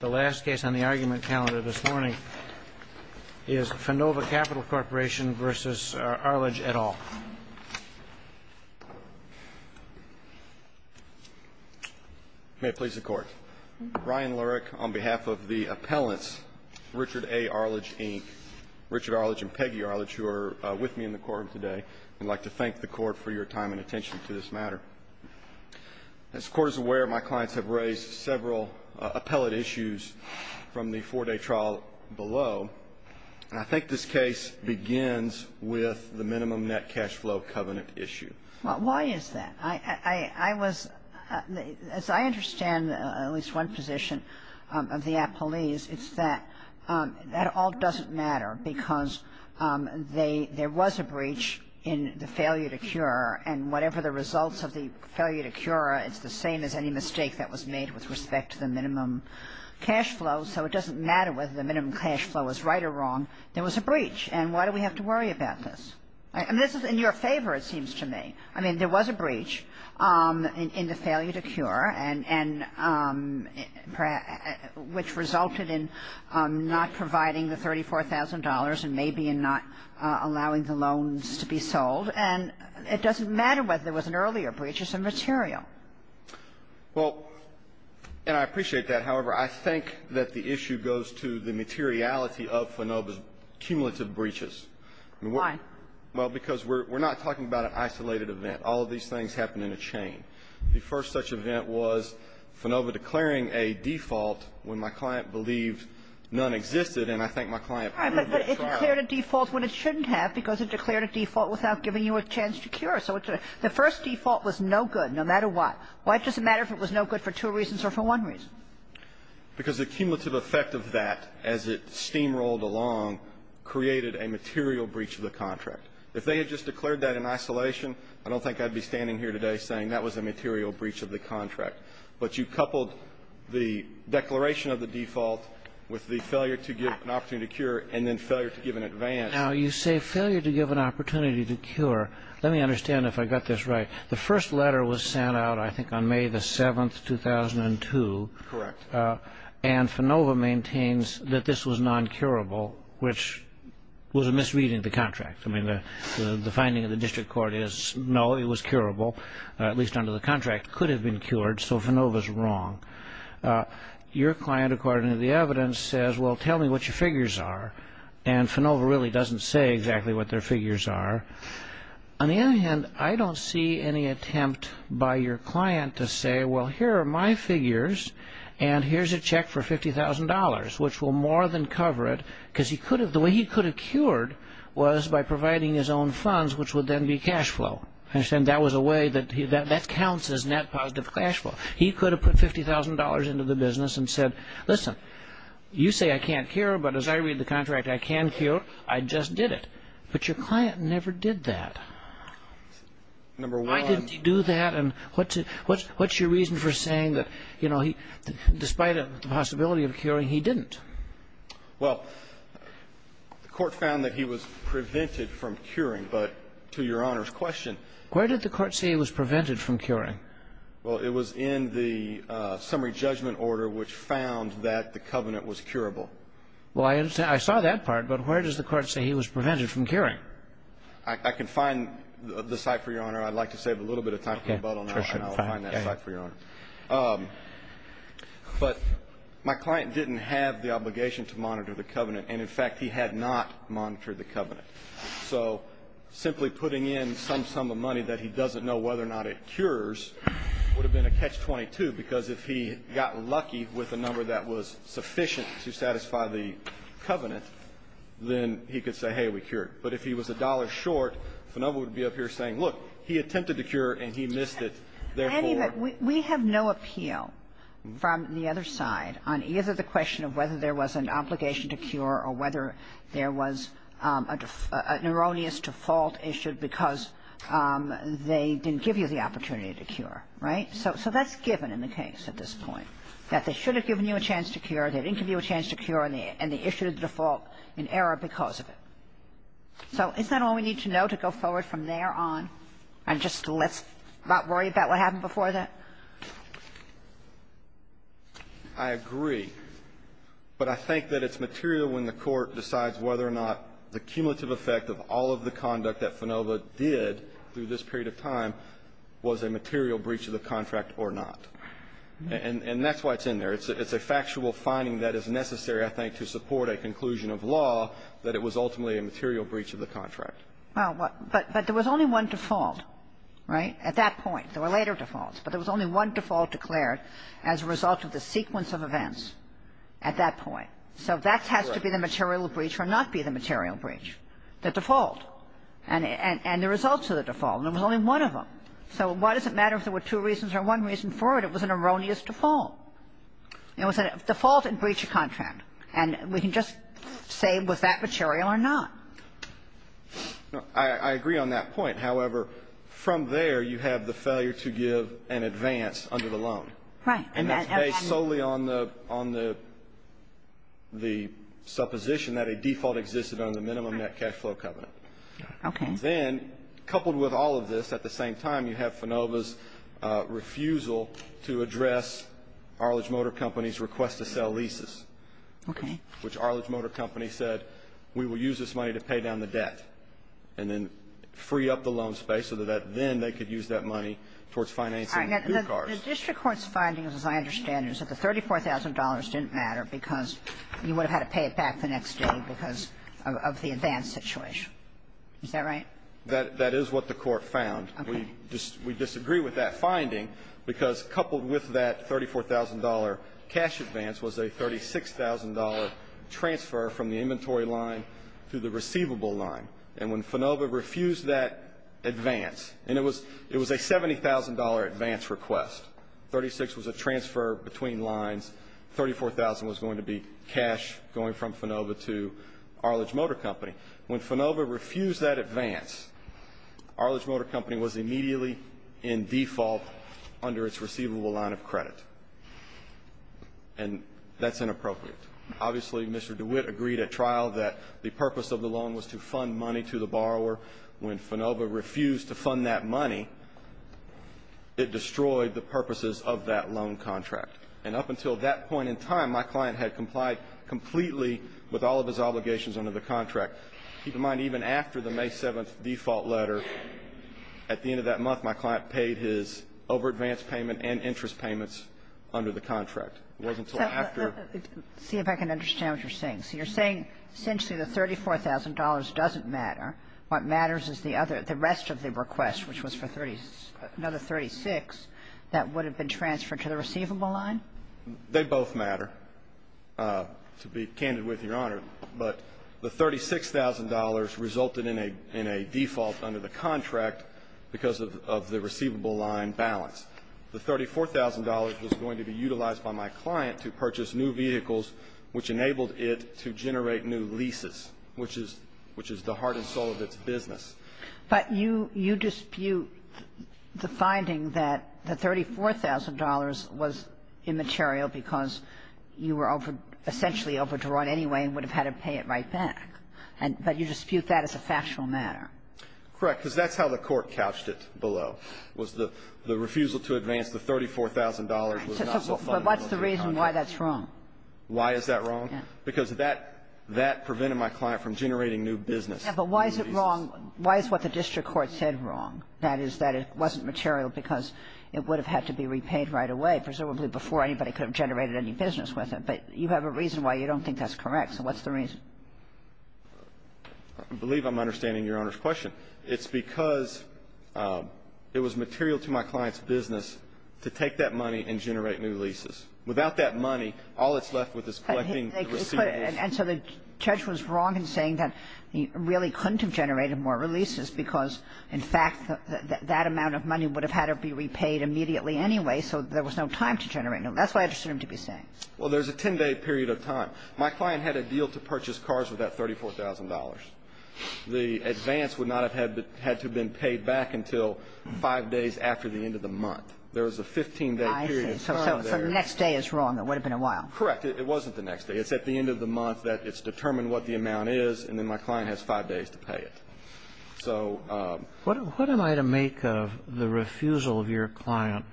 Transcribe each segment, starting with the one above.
The last case on the argument calendar this morning is Finova Capital Corp. v. Arledge, et al. May it please the Court. Ryan Lurek, on behalf of the appellants, Richard A. Arledge, Inc., Richard Arledge and Peggy Arledge, who are with me in the courtroom today, would like to thank the Court for your time and attention to this matter. As the Court is aware, my clients have raised several appellate issues from the four-day trial below, and I think this case begins with the minimum net cash flow covenant issue. Why is that? I was – as I understand at least one position of the appellees, it's that that all doesn't matter because there was a breach in the failure to cure, and whatever the results of the failure to cure, it's the same as any mistake that was made with respect to the minimum cash flow, so it doesn't matter whether the minimum cash flow is right or wrong. There was a breach, and why do we have to worry about this? And this is in your favor, it seems to me. I mean, there was a breach in the failure to cure and which resulted in not providing the $34,000 and maybe in not allowing the loans to be sold, and it doesn't matter whether it was an earlier breach, it's immaterial. Well, and I appreciate that. However, I think that the issue goes to the materiality of FANOB's cumulative breaches. Why? Well, because we're not talking about an isolated event. All of these things happen in a chain. The first such event was FANOB declaring a default when my client believed none existed, and I think my client proved it. But it declared a default when it shouldn't have because it declared a default without giving you a chance to cure. So the first default was no good, no matter what. Why does it matter if it was no good for two reasons or for one reason? Because the cumulative effect of that as it steamrolled along created a material breach of the contract. If they had just declared that in isolation, I don't think I'd be standing here today saying that was a material breach of the contract. But you coupled the declaration of the default with the failure to give an opportunity to cure and then failure to give an advance. Now, you say failure to give an opportunity to cure. Let me understand if I got this right. The first letter was sent out, I think, on May 7, 2002. Correct. And FANOVA maintains that this was non-curable, which was a misreading of the contract. I mean, the finding of the district court is no, it was curable, at least under the contract. It could have been cured, so FANOVA is wrong. Your client, according to the evidence, says, well, tell me what your figures are. And FANOVA really doesn't say exactly what their figures are. On the other hand, I don't see any attempt by your client to say, well, here are my figures and here's a check for $50,000, which will more than cover it, because the way he could have cured was by providing his own funds, which would then be cash flow. That counts as net positive cash flow. He could have put $50,000 into the business and said, listen, you say I can't cure, but as I read the contract, I can cure. I just did it. But your client never did that. Why didn't he do that? And what's your reason for saying that, you know, despite the possibility of curing, he didn't? Well, the court found that he was prevented from curing, but to Your Honor's question Where did the court say he was prevented from curing? Well, it was in the summary judgment order, which found that the covenant was curable. Well, I saw that part, but where does the court say he was prevented from curing? I can find the site for Your Honor. I'd like to save a little bit of time for rebuttal, and I'll find that site for Your Honor. But my client didn't have the obligation to monitor the covenant, and in fact, he had not monitored the covenant. So simply putting in some sum of money that he doesn't know whether or not it cures would have been a catch-22, because if he got lucky with the number that was sufficient to satisfy the covenant, then he could say, hey, we cured. But if he was a dollar short, Finova would be up here saying, look, he attempted to cure, and he missed it, therefore. We have no appeal from the other side on either the question of whether there was an obligation to cure or whether there was a neuroneous default issued because they didn't give you the opportunity to cure. Right? So that's given in the case at this point, that they should have given you a chance to cure, they didn't give you a chance to cure, and they issued a default in error because of it. So is that all we need to know to go forward from there on and just let's not worry about what happened before that? I agree. But I think that it's material when the Court decides whether or not the cumulative effect of all of the conduct that Finova did through this period of time was a material breach of the contract or not. And that's why it's in there. It's a factual finding that is necessary, I think, to support a conclusion of law that it was ultimately a material breach of the contract. Well, but there was only one default, right, at that point. There were later defaults. But there was only one default declared as a result of the sequence of events at that point. So that has to be the material breach or not be the material breach, the default and the results of the default. And there was only one of them. So why does it matter if there were two reasons or one reason for it? It was an erroneous default. It was a default and breach of contract. And we can just say was that material or not. I agree on that point. However, from there you have the failure to give an advance under the loan. Right. And that's based solely on the supposition that a default existed on the minimum net cash flow covenant. Okay. Then, coupled with all of this, at the same time, you have FANOVA's refusal to address Arledge Motor Company's request to sell leases. Okay. Which Arledge Motor Company said we will use this money to pay down the debt and then free up the loan space so that then they could use that money towards financing new cars. The district court's finding, as I understand it, is that the $34,000 didn't matter because you would have had to pay it back the next day because of the advance situation. Is that right? That is what the court found. Okay. We disagree with that finding because, coupled with that $34,000 cash advance, was a $36,000 transfer from the inventory line to the receivable line. And when FANOVA refused that advance, and it was a $70,000 advance request, $36,000 was a transfer between lines, $34,000 was going to be cash going from FANOVA to Arledge Motor Company. When FANOVA refused that advance, Arledge Motor Company was immediately in default under its receivable line of credit. And that's inappropriate. Obviously, Mr. DeWitt agreed at trial that the purpose of the loan was to fund money to the borrower. When FANOVA refused to fund that money, it destroyed the purposes of that loan contract. And up until that point in time, my client had complied completely with all of his obligations under the contract. Keep in mind, even after the May 7th default letter, at the end of that month, my client paid his over-advanced payment and interest payments under the contract. It wasn't until after. See if I can understand what you're saying. So you're saying essentially the $34,000 doesn't matter. What matters is the other, the rest of the request, which was for another 36, that would have been transferred to the receivable line? They both matter, to be candid with Your Honor. But the $36,000 resulted in a default under the contract because of the receivable line balance. The $34,000 was going to be utilized by my client to purchase new vehicles, which enabled it to generate new leases, which is the heart and soul of its business. But you dispute the finding that the $34,000 was immaterial because you were essentially overdrawn anyway and would have had to pay it right back. But you dispute that as a factual matter. Correct. Because that's how the court couched it below, was the refusal to advance the $34,000 was not self-funded under the contract. But what's the reason why that's wrong? Why is that wrong? Because that prevented my client from generating new business. But why is it wrong? Why is what the district court said wrong? That is, that it wasn't material because it would have had to be repaid right away, presumably before anybody could have generated any business with it. But you have a reason why you don't think that's correct. So what's the reason? I believe I'm understanding Your Honor's question. It's because it was material to my client's business to take that money and generate new leases. Without that money, all it's left with is collecting the receivables. And so the judge was wrong in saying that he really couldn't have generated more releases because, in fact, that amount of money would have had to be repaid immediately anyway. So there was no time to generate. That's what I understood him to be saying. Well, there's a 10-day period of time. My client had a deal to purchase cars with that $34,000. The advance would not have had to have been paid back until 5 days after the end of the month. There was a 15-day period. I see. So the next day is wrong. It would have been a while. Correct. It wasn't the next day. It's at the end of the month that it's determined what the amount is, and then my client has 5 days to pay it. What am I to make of the refusal of your client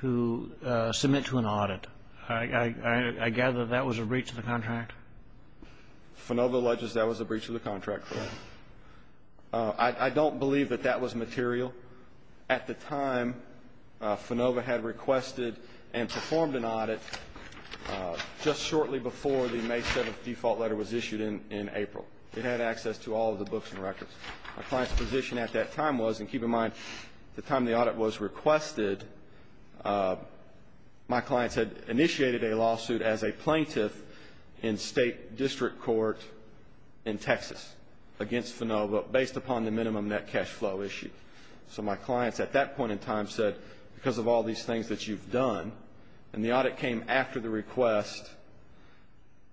to submit to an audit? I gather that was a breach of the contract? Finova alleges that was a breach of the contract, correct. I don't believe that that was material. At the time, Finova had requested and performed an audit just shortly before the May 7th default letter was issued in April. It had access to all of the books and records. My client's position at that time was, and keep in mind, the time the audit was requested, my client had initiated a lawsuit as a plaintiff in state district court in Texas against Finova based upon the minimum net cash flow issue. So my client at that point in time said, because of all these things that you've done, and the audit came after the request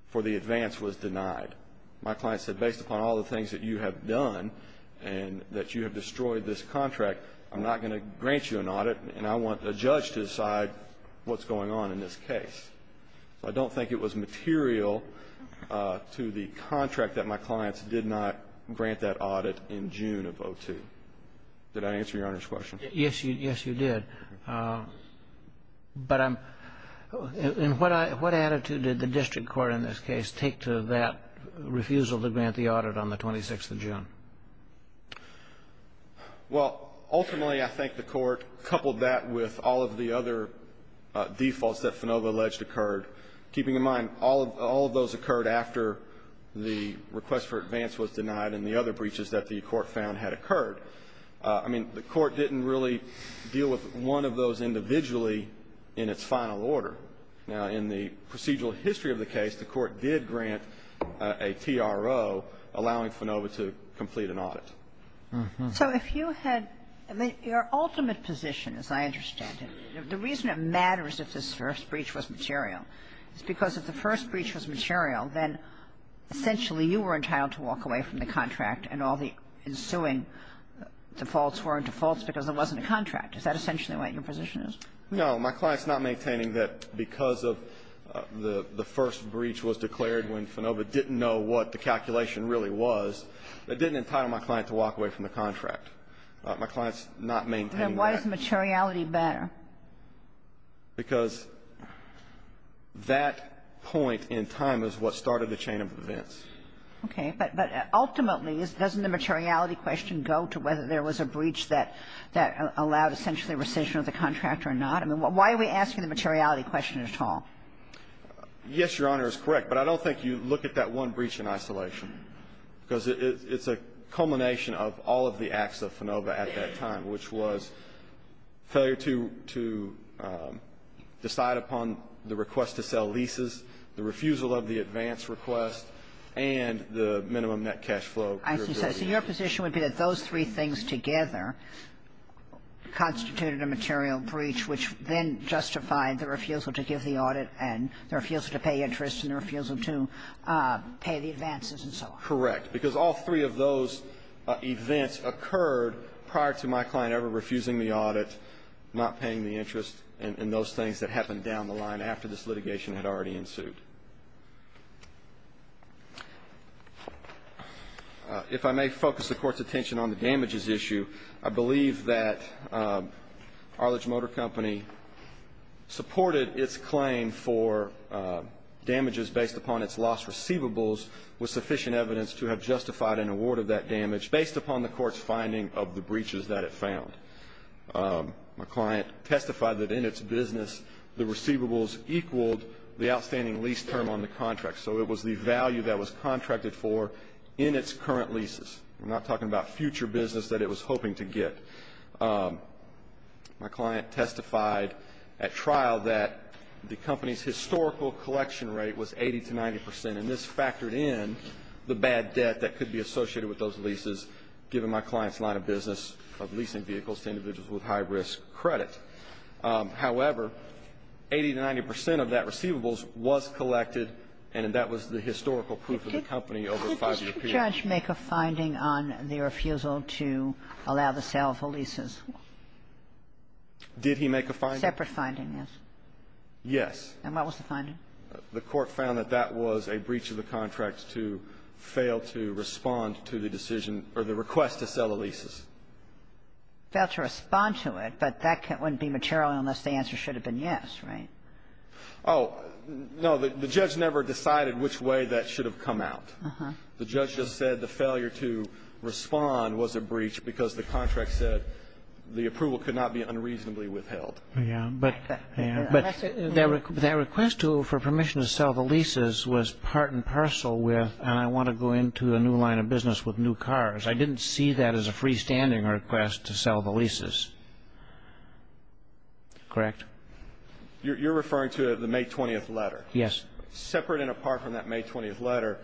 for the advance was denied. My client said, based upon all the things that you have done and that you have destroyed this contract, I'm not going to grant you an audit, and I want a judge to decide what's going on in this case. So I don't think it was material to the contract that my clients did not grant that audit in June of 2002. Did I answer Your Honor's question? Yes, you did. But I'm – and what attitude did the district court in this case take to that refusal to grant the audit on the 26th of June? Well, ultimately, I think the court coupled that with all of the other defaults that Finova alleged occurred, keeping in mind all of those occurred after the request for advance was denied and the other breaches that the court found had occurred. I mean, the court didn't really deal with one of those individually in its final order. Now, in the procedural history of the case, the court did grant a TRO allowing Finova to complete an audit. So if you had – I mean, your ultimate position, as I understand it, the reason it matters if this first breach was material is because if the first breach was material, then essentially you were entitled to walk away from the contract and all the ensuing defaults weren't defaults because it wasn't a contract. Is that essentially what your position is? No. My client's not maintaining that because of the first breach was declared when Finova didn't know what the calculation really was, it didn't entitle my client to walk away from the contract. My client's not maintaining that. Then why is materiality better? Because that point in time is what started the chain of events. Okay. But ultimately, doesn't the materiality question go to whether there was a breach that allowed essentially rescission of the contract or not? I mean, why are we asking the materiality question at all? Yes, Your Honor, is correct. But I don't think you look at that one breach in isolation because it's a culmination of all of the acts of Finova at that time, which was failure to decide upon the request to sell leases, the refusal of the advance request, and the minimum net cash flow. I see. So your position would be that those three things together constituted a material breach which then justified the refusal to give the audit and the refusal to pay interest and the refusal to pay the advances and so on. Correct. Because all three of those events occurred prior to my client ever refusing the audit, not paying the interest, and those things that happened down the line after this litigation had already ensued. If I may focus the Court's attention on the damages issue, I believe that Arledge Motor Company supported its claim for damages based upon its lost receivables with sufficient evidence to have justified and awarded that damage based upon the Court's finding of the breaches that it found. My client testified that in its business the receivables equaled the outstanding lease term on the contract, so it was the value that was contracted for in its current leases. We're not talking about future business that it was hoping to get. My client testified at trial that the company's historical collection rate was 80 to 90 percent, and this factored in the bad debt that could be associated with those leases, given my client's line of business of leasing vehicles to individuals with high-risk credit. However, 80 to 90 percent of that receivables was collected, and that was the historical proof of the company over a five-year period. Did the judge make a finding on the refusal to allow the sale of the leases? Did he make a finding? Yes. And what was the finding? The court found that that was a breach of the contract to fail to respond to the decision or the request to sell the leases. Fail to respond to it, but that wouldn't be material unless the answer should have been yes, right? Oh, no. The judge never decided which way that should have come out. Uh-huh. The judge just said the failure to respond was a breach because the contract said the approval could not be unreasonably withheld. Yeah. But that request for permission to sell the leases was part and parcel with, and I want to go into a new line of business with new cars. I didn't see that as a freestanding request to sell the leases. Correct? You're referring to the May 20th letter. Yes. Separate and apart from that May 20th letter,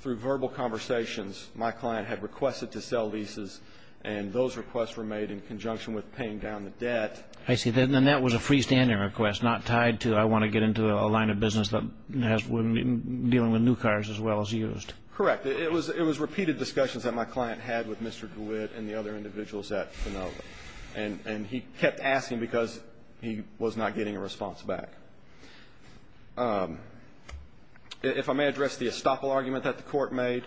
through verbal conversations, my client had requested to sell leases, and those requests were made in conjunction with paying down the debt. I see. Then that was a freestanding request, not tied to I want to get into a line of business dealing with new cars as well as used. Correct. It was repeated discussions that my client had with Mr. DeWitt and the other individuals at Finova, and he kept asking because he was not getting a response back. If I may address the estoppel argument that the Court made,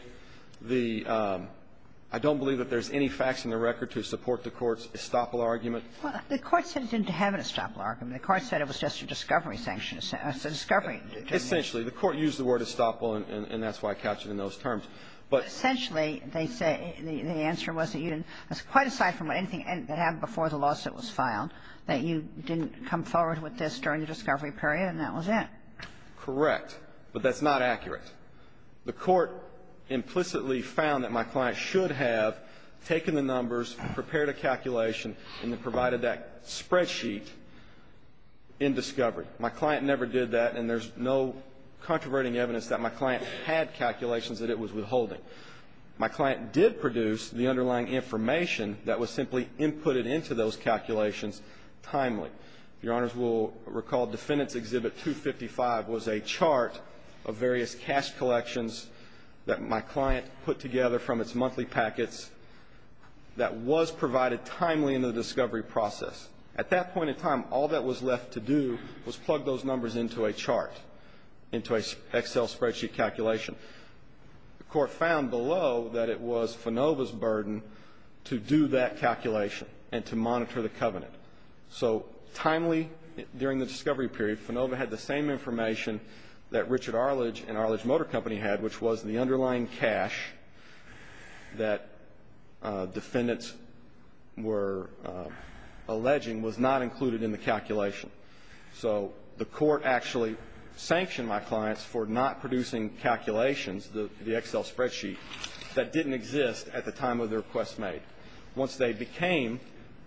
I don't believe that there's any facts in the record to support the Court's estoppel argument. Well, the Court said it didn't have an estoppel argument. The Court said it was just a discovery sanction. It's a discovery. Essentially. The Court used the word estoppel, and that's why I captured it in those terms. But essentially, they say the answer was that you didn't. That's quite aside from anything that happened before the lawsuit was filed, that you didn't come forward with this during the discovery period, and that was it. Correct. But that's not accurate. The Court implicitly found that my client should have taken the numbers, prepared a calculation, and then provided that spreadsheet in discovery. My client never did that, and there's no controverting evidence that my client had calculations that it was withholding. My client did produce the underlying information that was simply inputted into those calculations timely. Your Honors will recall Defendant's Exhibit 255 was a chart of various cash collections that my client put together from its monthly packets that was provided timely in the discovery process. At that point in time, all that was left to do was plug those numbers into a chart, into an Excel spreadsheet calculation. The Court found below that it was FANOVA's burden to do that calculation and to monitor the covenant. So timely during the discovery period, FANOVA had the same information that Richard had, which was the underlying cash that defendants were alleging was not included in the calculation. So the Court actually sanctioned my clients for not producing calculations, the Excel spreadsheet, that didn't exist at the time of their request made. Once they became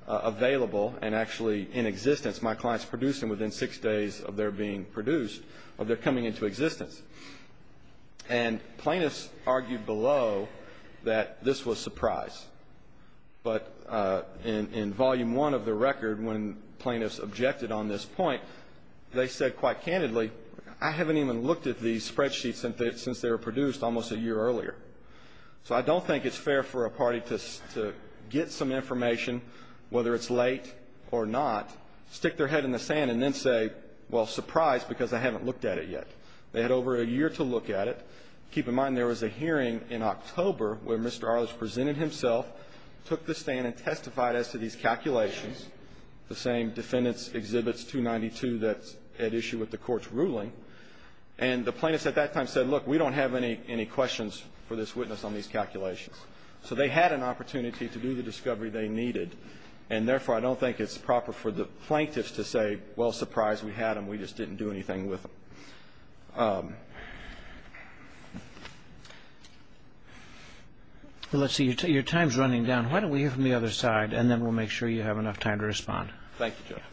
available and actually in existence, my clients produced them within six days of their being produced, of their coming into existence. And plaintiffs argued below that this was surprise. But in Volume 1 of the record, when plaintiffs objected on this point, they said quite candidly, I haven't even looked at these spreadsheets since they were produced almost a year earlier. So I don't think it's fair for a party to get some information, whether it's late or not, stick their head in the sand and then say, well, surprise, because I haven't looked at it yet. They had over a year to look at it. Keep in mind there was a hearing in October where Mr. Arledge presented himself, took the stand, and testified as to these calculations, the same defendants' exhibits 292 that's at issue with the Court's ruling. And the plaintiffs at that time said, look, we don't have any questions for this witness on these calculations. So they had an opportunity to do the discovery they needed. And therefore, I don't think it's proper for the plaintiffs to say, well, surprise, we had them, we just didn't do anything with them. Roberts. Your time is running down. Why don't we hear from the other side, and then we'll make sure you have enough time to respond. Thank you, Justice.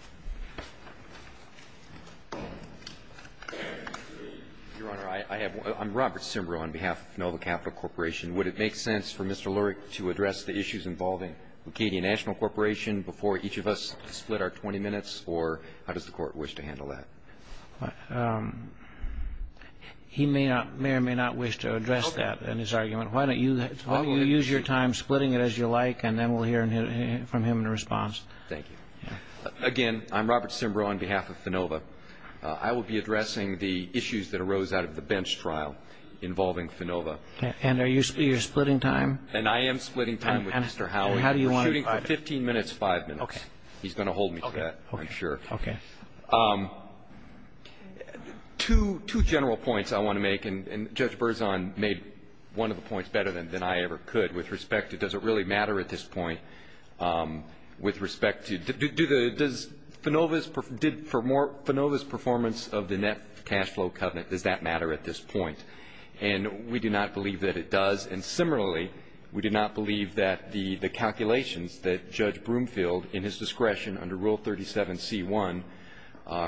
Your Honor, I have one. I'm Robert Simreau on behalf of Melville Capital Corporation. Would it make sense for Mr. Lurie to address the issues involving Acadia National Corporation before each of us split our 20 minutes, or how does the Court wish to handle that? He may or may not wish to address that in his argument. Why don't you use your time splitting it as you like, and then we'll hear from him in response. Thank you. Again, I'm Robert Simreau on behalf of FINOVA. I will be addressing the issues that arose out of the bench trial involving FINOVA. And are you splitting time? And I am splitting time with Mr. Howe. And how do you want to provide it? We're shooting for 15 minutes, 5 minutes. Okay. He's going to hold me to that, I'm sure. Okay. Two general points I want to make, and Judge Berzon made one of the points better than I ever could with respect to, does it really matter at this point with respect to, does FINOVA's performance of the net cash flow covenant, does that matter at this point? And we do not believe that it does. And similarly, we do not believe that the calculations that Judge Broomfield, in his discretion under Rule 37c1,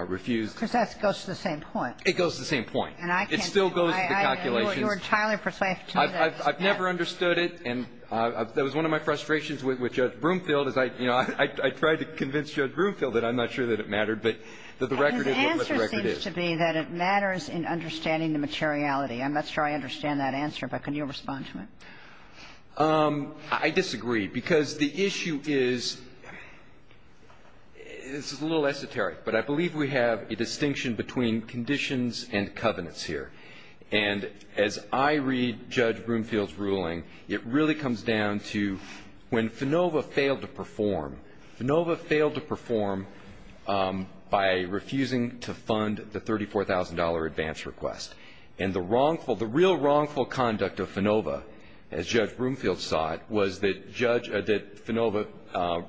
refused. Because that goes to the same point. It goes to the same point. And I can't do it. It still goes to the calculations. You are entirely persuasive to me that it does. I've never understood it, and that was one of my frustrations with Judge Broomfield is I, you know, I tried to convince Judge Broomfield that I'm not sure that it mattered, but that the record is what the record is. His answer seems to be that it matters in understanding the materiality. I'm not sure I understand that answer, but can you respond to it? I disagree. Because the issue is, this is a little esoteric, but I believe we have a distinction between conditions and covenants here. And as I read Judge Broomfield's ruling, it really comes down to when FINOVA failed to perform, FINOVA failed to perform by refusing to fund the $34,000 advance request. And the wrongful, the real wrongful conduct of FINOVA, as Judge Broomfield saw it, was that judge, that FINOVA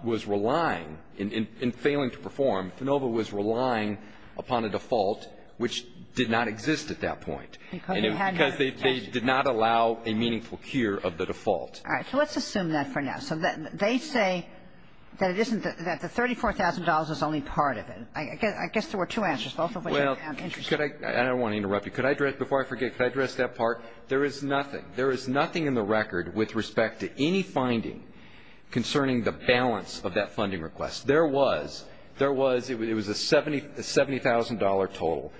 was relying, in failing to perform, FINOVA was relying upon a default which did not exist at that point. Because you had to. Because they did not allow a meaningful cure of the default. All right. So let's assume that for now. So they say that it isn't, that the $34,000 is only part of it. I guess there were two answers, both of which I'm interested in. I don't want to interrupt you. Before I forget, could I address that part? There is nothing. There is nothing in the record with respect to any finding concerning the balance of that funding request. There was. There was. It was a $70,000 total.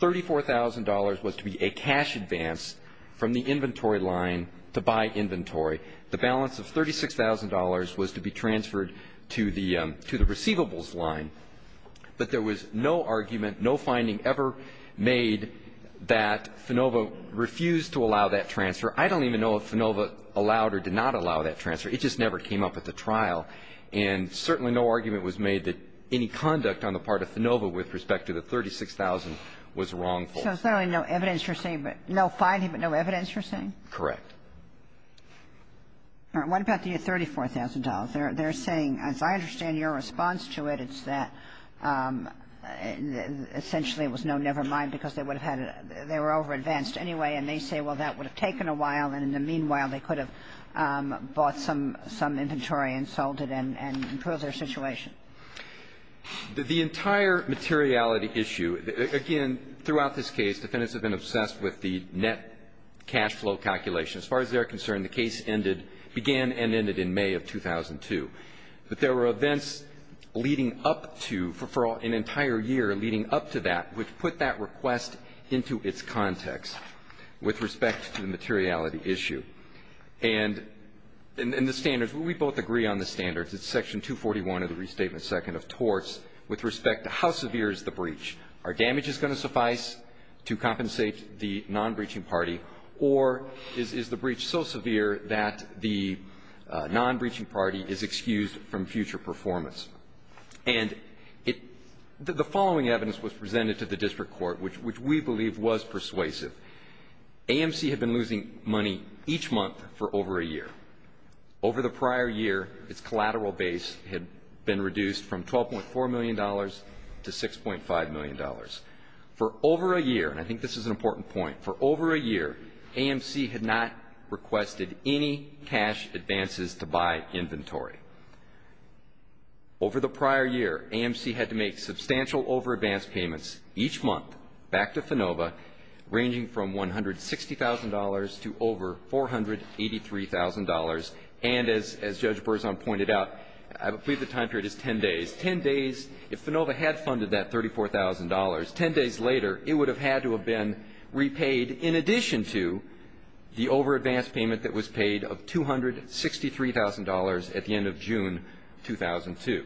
$34,000 was to be a cash advance from the inventory line to buy inventory. The balance of $36,000 was to be transferred to the receivables line. But there was no argument, no finding ever made that FINOVA refused to allow that transfer. I don't even know if FINOVA allowed or did not allow that transfer. It just never came up at the trial. And certainly no argument was made that any conduct on the part of FINOVA with respect to the $36,000 was wrongful. So there's no evidence you're saying, no finding but no evidence you're saying? Correct. All right. What about the $34,000? $34,000. They're saying, as I understand your response to it, it's that essentially it was no never mind because they would have had a they were over-advanced anyway, and they say, well, that would have taken a while, and in the meanwhile they could have bought some inventory and sold it and improved their situation. The entire materiality issue, again, throughout this case, defendants have been obsessed with the net cash flow calculation. As far as they're concerned, the case ended began and ended in May of 2002. But there were events leading up to for an entire year leading up to that which put that request into its context with respect to the materiality issue. And in the standards, we both agree on the standards. It's Section 241 of the Restatement Second of Torts with respect to how severe is the breach. Are damages going to suffice to compensate the non-breaching party? Or is the breach so severe that the non-breaching party is excused from future performance? And the following evidence was presented to the district court, which we believe was persuasive. AMC had been losing money each month for over a year. Over the prior year, its collateral base had been reduced from $12.4 million to $6.5 million. For over a year, and I think this is an important point, for over a year, AMC had not requested any cash advances to buy inventory. Over the prior year, AMC had to make substantial over-advanced payments each month back to FINOVA ranging from $160,000 to over $483,000. And as Judge Berzon pointed out, I believe the time period is 10 days. If FINOVA had funded that $34,000, 10 days later, it would have had to have been repaid in addition to the over-advanced payment that was paid of $263,000 at the end of June 2002.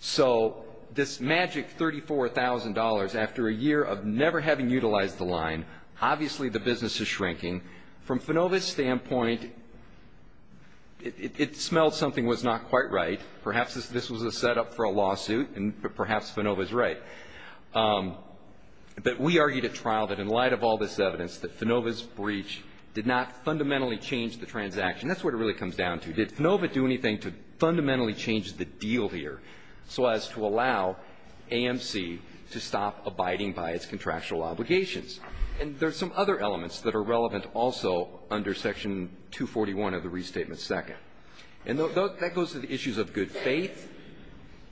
So this magic $34,000 after a year of never having utilized the line, obviously the business is shrinking. From FINOVA's standpoint, it smelled something was not quite right. Perhaps this was a setup for a lawsuit, and perhaps FINOVA is right. But we argued at trial that in light of all this evidence, that FINOVA's breach did not fundamentally change the transaction. That's what it really comes down to. Did FINOVA do anything to fundamentally change the deal here so as to allow AMC to stop abiding by its contractual obligations? And there are some other elements that are relevant also under Section 241 of the Restatement Second. And that goes to the issues of good faith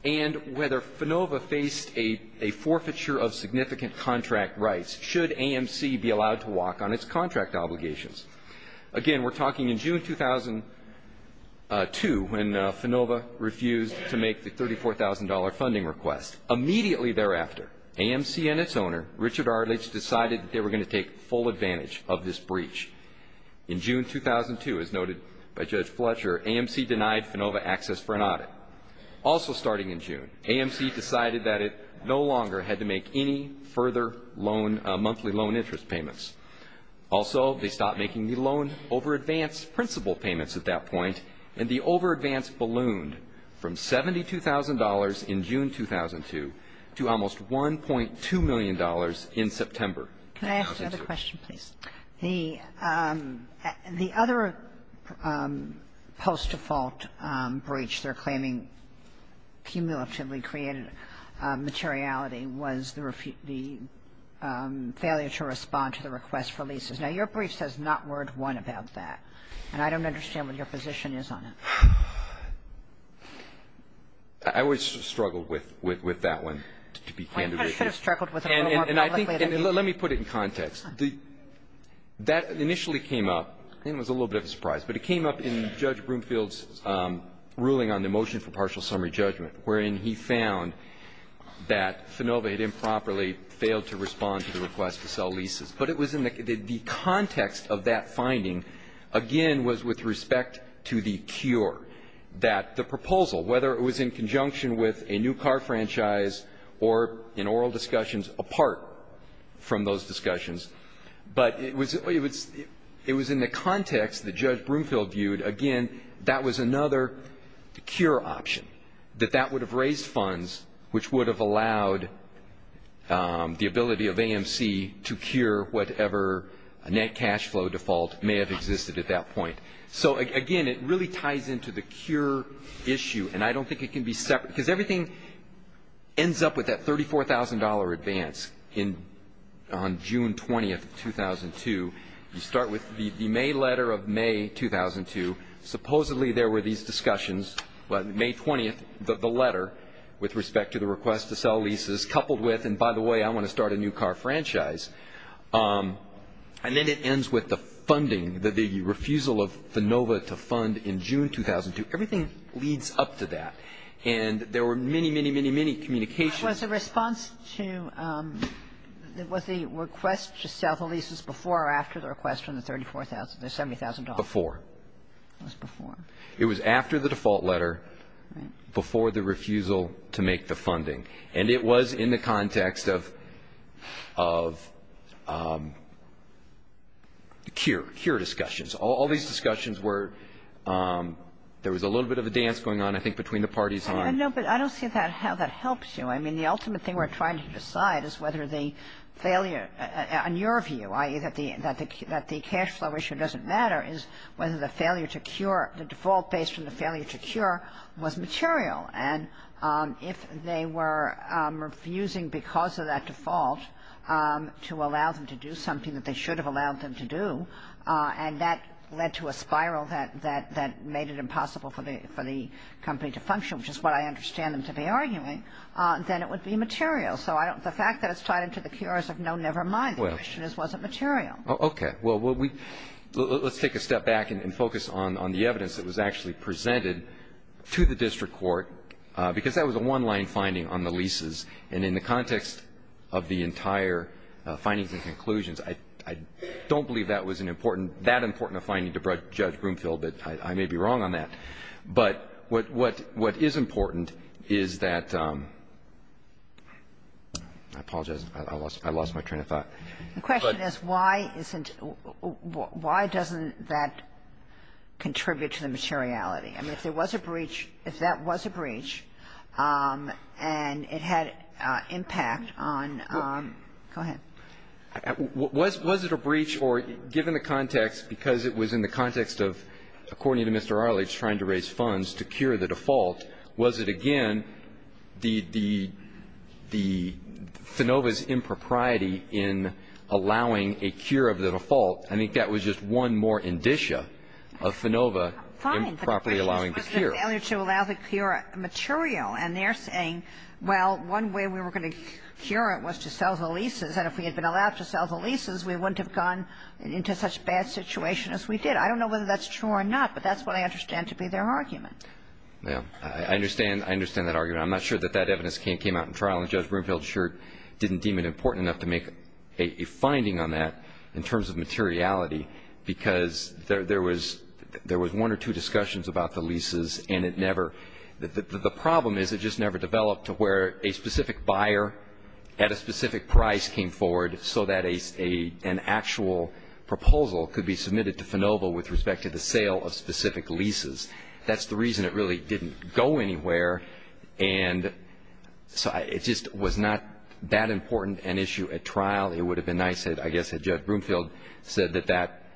and whether FINOVA faced a forfeiture of significant contract rights should AMC be allowed to walk on its contract obligations. Again, we're talking in June 2002 when FINOVA refused to make the $34,000 funding request. Immediately thereafter, AMC and its owner, Richard Arledge, decided that they were going to take full advantage of this breach. In June 2002, as noted by Judge Fletcher, AMC denied FINOVA access for an audit. Also starting in June, AMC decided that it no longer had to make any further monthly loan interest payments. Also, they stopped making the loan over advance principal payments at that point, and the over advance ballooned from $72,000 in June 2002 to almost $1.2 million in September. Kagan. Can I ask another question, please? The other post-default breach they're claiming cumulatively created materiality was the failure to respond to the request for leases. Now, your brief says not word one about that, and I don't understand what your position is on it. I would struggle with that one to be candid with you. And I think, and let me put it in context. That initially came up, and it was a little bit of a surprise, but it came up in Judge Broomfield's ruling on the motion for partial summary judgment, wherein he found that FINOVA had improperly failed to respond to the request to sell leases. But it was in the context of that finding, again, was with respect to the cure, that the proposal, whether it was in conjunction with a new car franchise or an oral discussion, apart from those discussions. But it was in the context that Judge Broomfield viewed, again, that was another cure option, that that would have raised funds which would have allowed the ability of AMC to cure whatever net cash flow default may have existed at that point. So, again, it really ties into the cure issue, and I don't think it can be separate. Because everything ends up with that $34,000 advance on June 20th of 2002. You start with the May letter of May 2002. Supposedly, there were these discussions. Well, May 20th, the letter with respect to the request to sell leases coupled with, and by the way, I want to start a new car franchise. And then it ends with the funding, the refusal of FINOVA to fund in June 2002. Everything leads up to that. And there were many, many, many, many communications. Was the response to the request to sell the leases before or after the request from the $34,000, the $70,000? Before. It was before. It was after the default letter, before the refusal to make the funding. And it was in the context of cure, cure discussions. All these discussions were, there was a little bit of a dance going on, I think, between the parties on ---- No, but I don't see how that helps you. I mean, the ultimate thing we're trying to decide is whether the failure, in your view, i.e., that the cash flow issue doesn't matter, is whether the failure to cure, the default based on the failure to cure was material. And if they were refusing because of that default to allow them to do something that they should have allowed them to do, and that led to a spiral that made it to function, which is what I understand them to be arguing, then it would be material. So the fact that it's tied into the cures of no, never mind, the question is, was it material? Okay. Well, let's take a step back and focus on the evidence that was actually presented to the district court because that was a one-line finding on the leases. And in the context of the entire findings and conclusions, I don't believe that was an important, that important a finding to Judge Broomfield, but I may be wrong on that. But what is important is that – I apologize. I lost my train of thought. The question is, why isn't – why doesn't that contribute to the materiality? I mean, if there was a breach, if that was a breach and it had impact on – go ahead. Was it a breach or, given the context, because it was in the context of, according to the defendant's claim to raise funds to cure the default, was it, again, the – the – the – Finova's impropriety in allowing a cure of the default, I think that was just one more indicia of Finova improperly allowing the cure. Fine. But the question was the failure to allow the cure material. And they're saying, well, one way we were going to cure it was to sell the leases, and if we had been allowed to sell the leases, we wouldn't have gone into such bad situation as we did. I don't know whether that's true or not, but that's what I understand to be their argument. Yeah. I understand – I understand that argument. I'm not sure that that evidence came out in trial, and Judge Broomfield sure didn't deem it important enough to make a finding on that in terms of materiality because there – there was – there was one or two discussions about the leases, and it never – the problem is it just never developed to where a specific Finova with respect to the sale of specific leases. That's the reason it really didn't go anywhere. And so it just was not that important an issue at trial. It would have been nice, I guess, had Judge Broomfield said that that –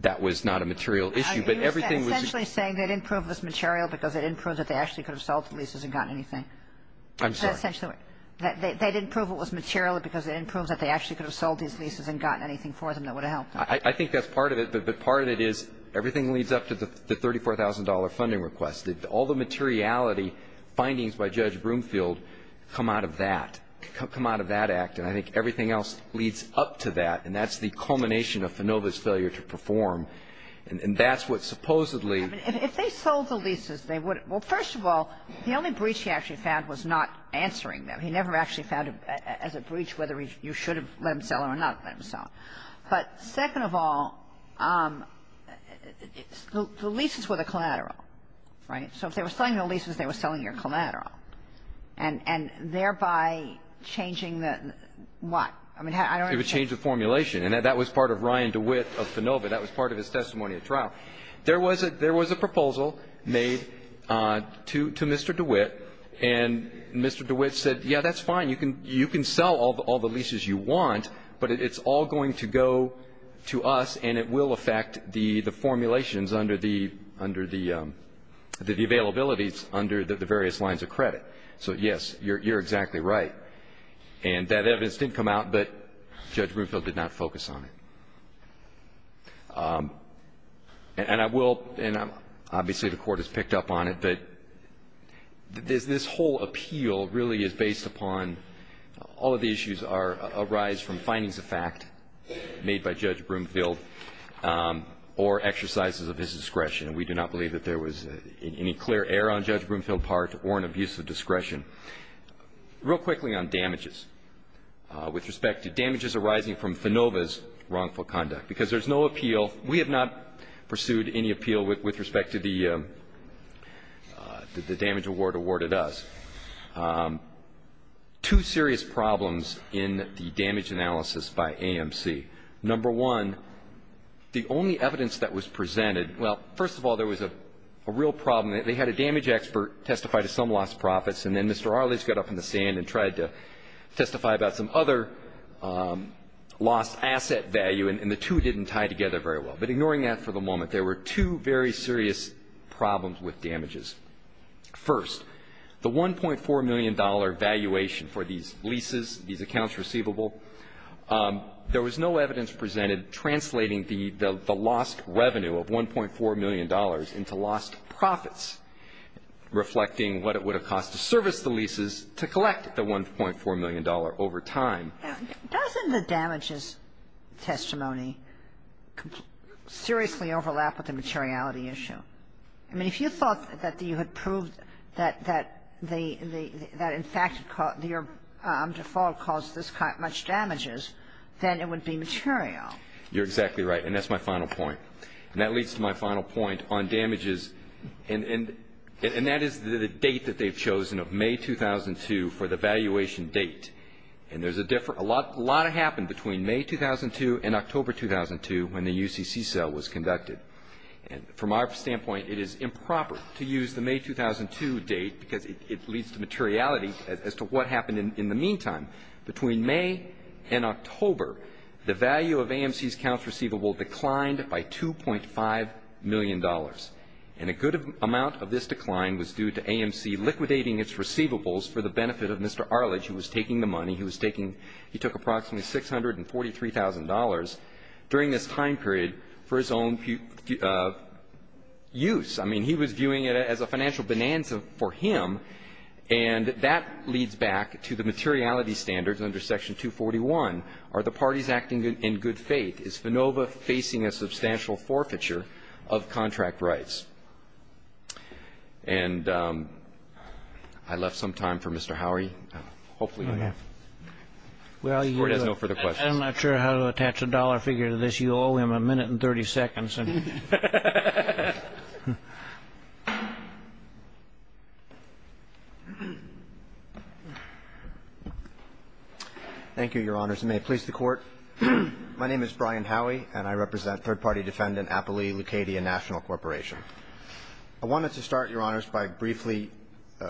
that was not a material issue. But everything was – Are you essentially saying they didn't prove it was material because they didn't prove that they actually could have sold the leases and gotten anything? I'm sorry. They didn't prove it was material because they didn't prove that they actually could have sold these leases and gotten anything for them that would have helped them? I think that's part of it. But part of it is everything leads up to the $34,000 funding request. All the materiality findings by Judge Broomfield come out of that – come out of that act. And I think everything else leads up to that. And that's the culmination of Finova's failure to perform. And that's what supposedly – I mean, if they sold the leases, they would – well, first of all, the only breach he actually found was not answering them. He never actually found it as a breach whether you should have let him sell or not let him sell. But second of all, the leases were the collateral, right? So if they were selling the leases, they were selling your collateral. And thereby changing the – what? I mean, I don't understand. It would change the formulation. And that was part of Ryan DeWitt of Finova. That was part of his testimony at trial. There was a – there was a proposal made to Mr. DeWitt, and Mr. DeWitt said, yeah, that's fine. You can sell all the leases you want, but it's all going to go to us, and it will affect the formulations under the – under the – the availabilities under the various lines of credit. So, yes, you're exactly right. And that evidence didn't come out, but Judge Bloomfield did not focus on it. And I will – and obviously the Court has picked up on it, but this whole appeal really is based upon – all of the issues are – arise from findings of fact made by Judge Bloomfield or exercises of his discretion. We do not believe that there was any clear error on Judge Bloomfield's part or an abuse of discretion. Real quickly on damages, with respect to damages arising from Finova's wrongful conduct, because there's no appeal – we have not pursued any appeal with respect to the damage award awarded us. Two serious problems in the damage analysis by AMC. Number one, the only evidence that was presented – well, first of all, there was a real problem. They had a damage expert testify to some lost profits, and then Mr. Arlitz got up in the sand and tried to testify about some other lost asset value, and the two didn't tie together very well. But ignoring that for the moment, there were two very serious problems with damages. First, the $1.4 million valuation for these leases, these accounts receivable, there was no evidence presented translating the lost revenue of $1.4 million into lost profits, reflecting what it would have cost to service the leases to collect the $1.4 million over time. Doesn't the damages testimony seriously overlap with the materiality issue? I mean, if you thought that you had proved that in fact your default caused this much damages, then it would be material. You're exactly right, and that's my final point. And that leads to my final point on damages, and that is the date that they've chosen of May 2002 for the valuation date. And there's a lot that happened between May 2002 and October 2002 when the UCC cell was conducted. And from our standpoint, it is improper to use the May 2002 date because it leads to materiality as to what happened in the meantime. Between May and October, the value of AMC's accounts receivable declined by $2.5 million, and a good amount of this decline was due to AMC liquidating its owner, Mr. Arledge, who was taking the money. He was taking he took approximately $643,000 during this time period for his own use. I mean, he was viewing it as a financial bonanza for him, and that leads back to the materiality standards under Section 241. Are the parties acting in good faith? Is FANOVA facing a substantial forfeiture of contract rights? And I left some time for Mr. Howey. Hopefully, we have. The Court has no further questions. I'm not sure how to attach a dollar figure to this. You owe him a minute and 30 seconds. Thank you, Your Honors. And may it please the Court. My name is Brian Howey, and I represent third-party defendant Applee Lucadia National Corporation. I wanted to start, Your Honors, by briefly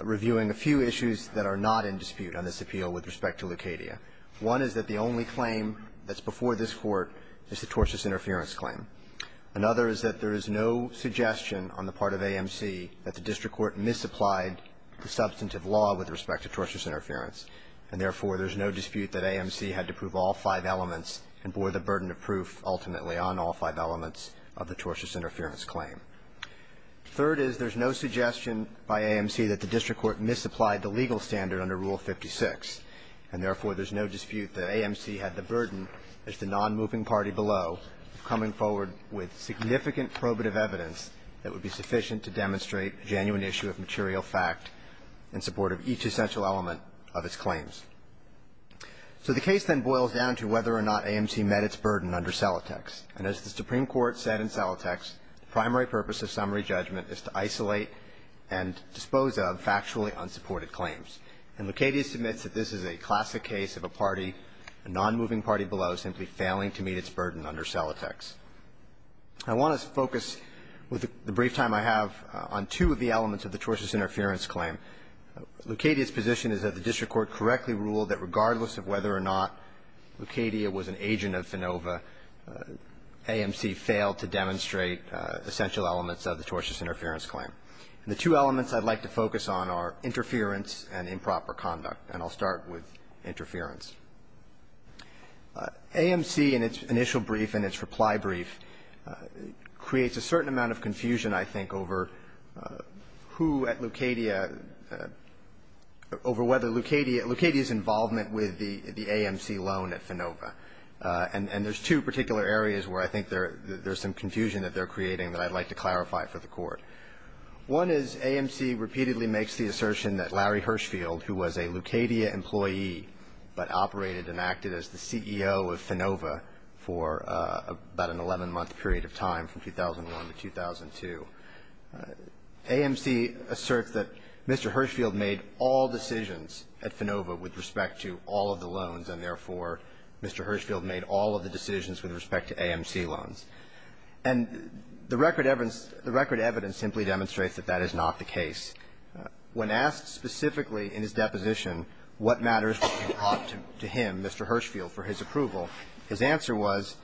reviewing a few issues that are not in dispute on this appeal with respect to Lucadia. One is that the only claim that's before this Court is the tortious interference claim. Another is that there is no suggestion on the part of AMC that the district court misapplied the substantive law with respect to tortious interference, and therefore, there's no dispute that AMC had to prove all five elements and bore the burden of proof ultimately on all five elements of the tortious interference claim. Third is there's no suggestion by AMC that the district court misapplied the legal standard under Rule 56, and therefore, there's no dispute that AMC had the burden as the nonmoving party below of coming forward with significant probative evidence that would be sufficient to demonstrate a genuine issue of material fact in support of each essential element of its claims. So the case then boils down to whether or not AMC met its burden under Salitex. And as the Supreme Court said in Salitex, the primary purpose of summary judgment is to isolate and dispose of factually unsupported claims. And Lucadia submits that this is a classic case of a party, a nonmoving party below, simply failing to meet its burden under Salitex. I want to focus with the brief time I have on two of the elements of the tortious interference claim. Lucadia's position is that the district court correctly ruled that regardless of whether or not Lucadia was an agent of FANOVA, AMC failed to demonstrate essential elements of the tortious interference claim. And the two elements I'd like to focus on are interference and improper conduct. And I'll start with interference. AMC in its initial brief and its reply brief creates a certain amount of confusion, I think, over who at Lucadia, over whether Lucadia, Lucadia's involvement with the AMC loan at FANOVA. And there's two particular areas where I think there's some confusion that they're creating that I'd like to clarify for the Court. One is AMC repeatedly makes the assertion that Larry Hirshfield, who was a Lucadia employee but operated and acted as the CEO of FANOVA for about an 11-month period of time from 2001 to 2002, AMC asserts that Mr. Hirshfield made all decisions at FANOVA with respect to all of the loans and, therefore, Mr. Hirshfield made all of the decisions with respect to AMC loans. And the record evidence simply demonstrates that that is not the case. When asked specifically in his deposition what matters were brought to him, Mr. Hirshfield, for his approval, his answer was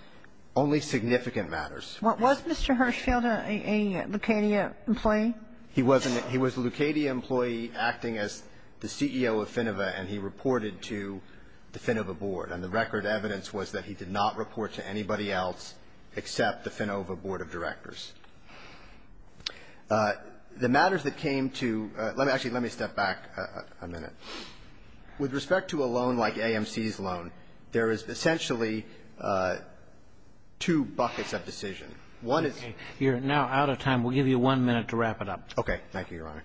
only significant matters. What was Mr. Hirshfield, a Lucadia employee? He was a Lucadia employee acting as the CEO of FANOVA, and he reported to the FANOVA board. And the record evidence was that he did not report to anybody else except the FANOVA board of directors. The matters that came to – let me – actually, let me step back a minute. With respect to a loan like AMC's loan, there is essentially two buckets of decision. One is – Okay. You're now out of time. We'll give you one minute to wrap it up. Okay. Thank you, Your Honor.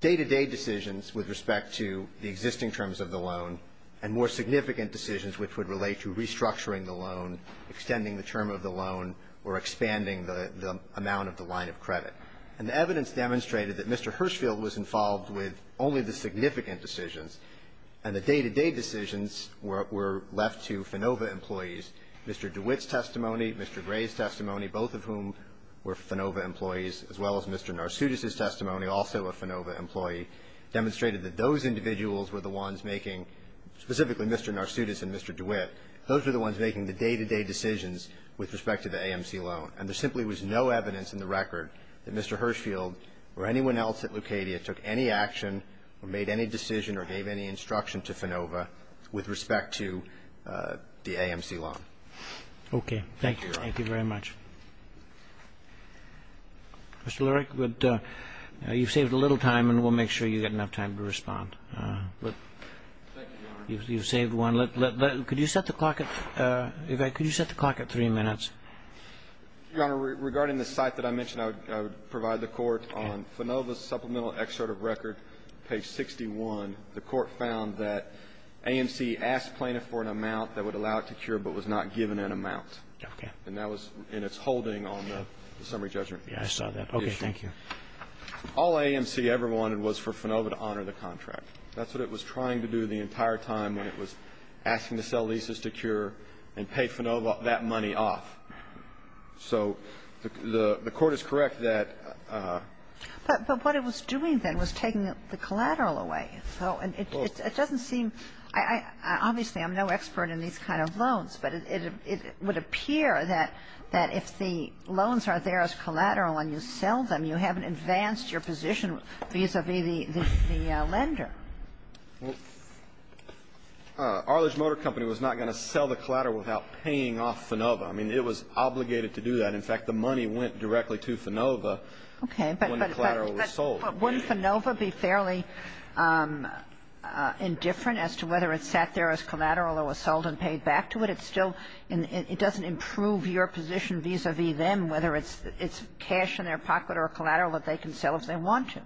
Day-to-day decisions with respect to the existing terms of the loan and more significant decisions which would relate to restructuring the loan, extending the term of the loan, or expanding the amount of the line of credit. And the evidence demonstrated that Mr. Hirshfield was involved with only the significant decisions, and the day-to-day decisions were left to FANOVA employees. Mr. DeWitt's testimony, Mr. Gray's testimony, both of whom were FANOVA employees, as well as Mr. Narsutis' testimony, also a FANOVA employee, demonstrated that those individuals were the ones making – specifically Mr. Narsutis and Mr. DeWitt – those were the ones making the day-to-day decisions with respect to the AMC loan. And there simply was no evidence in the record that Mr. Hirshfield or anyone else at Lucadia took any action or made any decision or gave any instruction to FANOVA with respect to the AMC loan. Okay. Thank you. Thank you very much. Mr. Lurich, you've saved a little time, and we'll make sure you get enough time to respond. You've saved one. Could you set the clock at – could you set the clock at three minutes? Your Honor, regarding the site that I mentioned, I would provide the Court on FANOVA's supplemental excerpt of record, page 61. The Court found that AMC asked plaintiff for an amount that would allow it to cure, but was not given an amount. Okay. And that was in its holding on the summary judgment. Yeah, I saw that. Okay. Thank you. All AMC ever wanted was for FANOVA to honor the contract. That's what it was trying to do the entire time when it was asking to sell leases to cure and pay FANOVA that money off. So the Court is correct that – But what it was doing then was taking the collateral away. So it doesn't seem – obviously, I'm no expert in these kind of loans, but it would appear that if the loans are there as collateral and you sell them, you haven't advanced your position vis-a-vis the lender. Well, Arledge Motor Company was not going to sell the collateral without paying off FANOVA. I mean, it was obligated to do that. In fact, the money went directly to FANOVA when the collateral was sold. Okay. But wouldn't FANOVA be fairly indifferent as to whether it sat there as collateral or was sold and paid back to it? It's still – it doesn't improve your position vis-a-vis them, whether it's cash in their pocket or collateral that they can sell if they want to.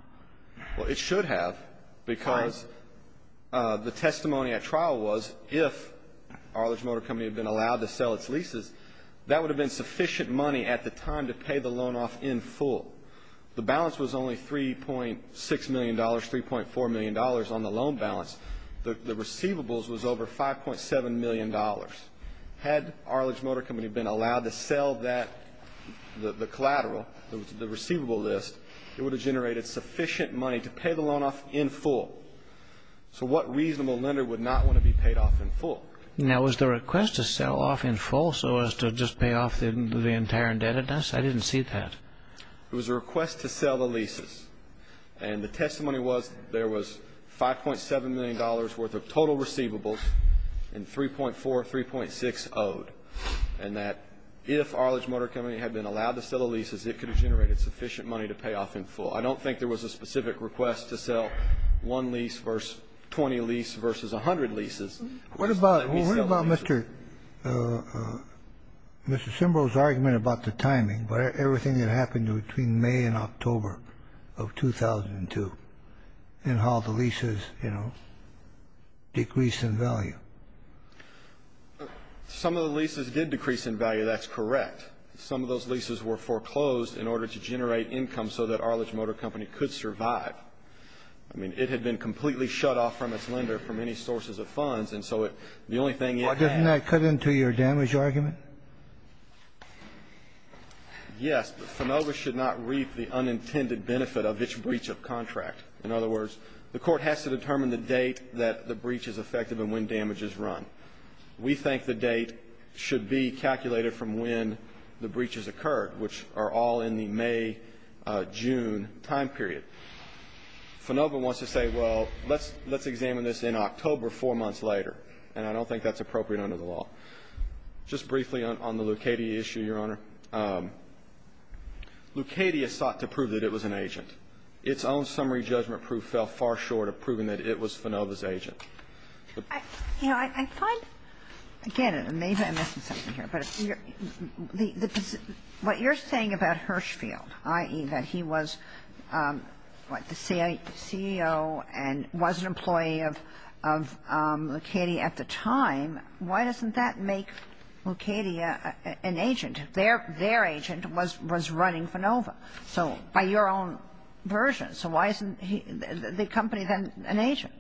Well, it should have because the testimony at trial was if Arledge Motor Company had been allowed to sell its leases, that would have been sufficient money at the time to pay the loan off in full. The balance was only $3.6 million, $3.4 million on the loan balance. The receivables was over $5.7 million. Had Arledge Motor Company been allowed to sell that – the collateral, the receivable list, it would have generated sufficient money to pay the loan off in full. So what reasonable lender would not want to be paid off in full? Now, was the request to sell off in full so as to just pay off the entire indebtedness? I didn't see that. It was a request to sell the leases. And the testimony was there was $5.7 million worth of total receivables and $3.4, $3.6 owed, and that if Arledge Motor Company had been allowed to sell the leases, it could have generated sufficient money to pay off in full. I don't think there was a specific request to sell one lease versus 20 leases versus 100 leases. What about – what about Mr. – Mr. Simbro's argument about the timing, about everything that happened between May and October of 2002 and how the leases, you know, decreased in value? Some of the leases did decrease in value. That's correct. Some of those leases were foreclosed in order to generate income so that Arledge Motor Company could survive. I mean, it had been completely shut off from its lender for many sources of funds, and so it – the only thing it had – Why doesn't that cut into your damage argument? Yes. But FINOVA should not reap the unintended benefit of its breach of contract. In other words, the Court has to determine the date that the breach is effective and when damage is run. We think the date should be calculated from when the breach has occurred, which are all in the May-June time period. FINOVA wants to say, well, let's – let's examine this in October four months later, and I don't think that's appropriate under the law. Just briefly on the Lucchetti issue, Your Honor, Lucchetti has sought to prove that it was an agent. Its own summary judgment proof fell far short of proving that it was FINOVA's agent. You know, I find – again, maybe I'm missing something here, but the – what you're saying about Hirschfield, i.e., that he was, what, the CEO and was an employee of – of Lucchetti at the time, why doesn't that make Lucchetti an agent? Their – their agent was – was running FINOVA, so – by your own version. So why isn't he – the company then an agent?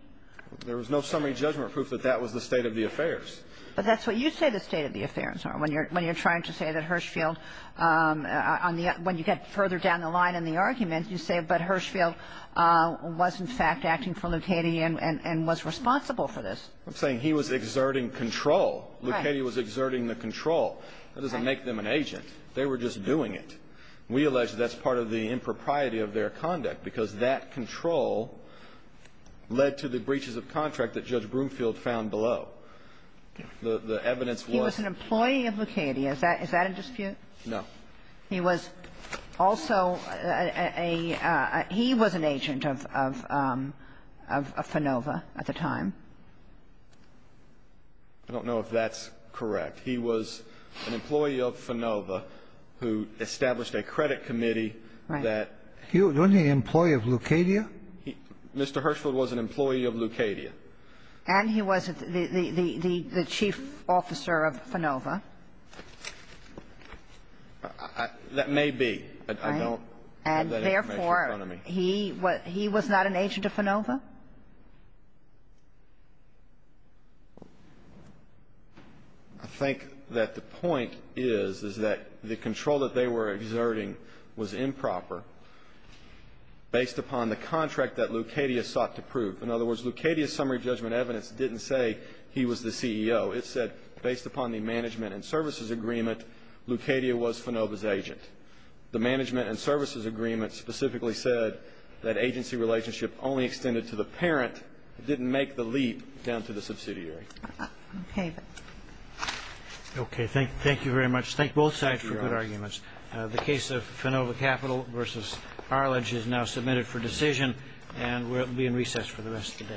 There was no summary judgment proof that that was the state of the affairs. But that's what you say the state of the affairs are when you're – when you're trying to say that Hirschfield, on the – when you get further down the line in the argument, you say, but Hirschfield was, in fact, acting for Lucchetti and – and was responsible for this. I'm saying he was exerting control. Right. Lucchetti was exerting the control. That doesn't make them an agent. They were just doing it. We allege that that's part of the impropriety of their conduct, because that control led to the breaches of contract that Judge Broomfield found below. The – the evidence was – So he was an employee of Lucchetti. Is that – is that a dispute? No. He was also a – he was an agent of – of FINOVA at the time. I don't know if that's correct. He was an employee of FINOVA who established a credit committee that – Right. He was only an employee of Lucchetti? Mr. Hirschfield was an employee of Lucchetti. And he was the – the – the chief officer of FINOVA. That may be. I don't have that information in front of me. And therefore, he was not an agent of FINOVA? I think that the point is, is that the control that they were exerting was improper based upon the contract that Lucchetti has sought to prove. In other words, Lucchetti's summary judgment evidence didn't say he was the CEO. It said, based upon the management and services agreement, Lucchetti was FINOVA's agent. The management and services agreement specifically said that agency relationship only extended to the parent. It didn't make the leap down to the subsidiary. Okay. Okay. Thank you very much. Thank both sides for good arguments. The case of FINOVA Capital v. Arledge is now submitted for decision, and it will be in recess for the rest of the day.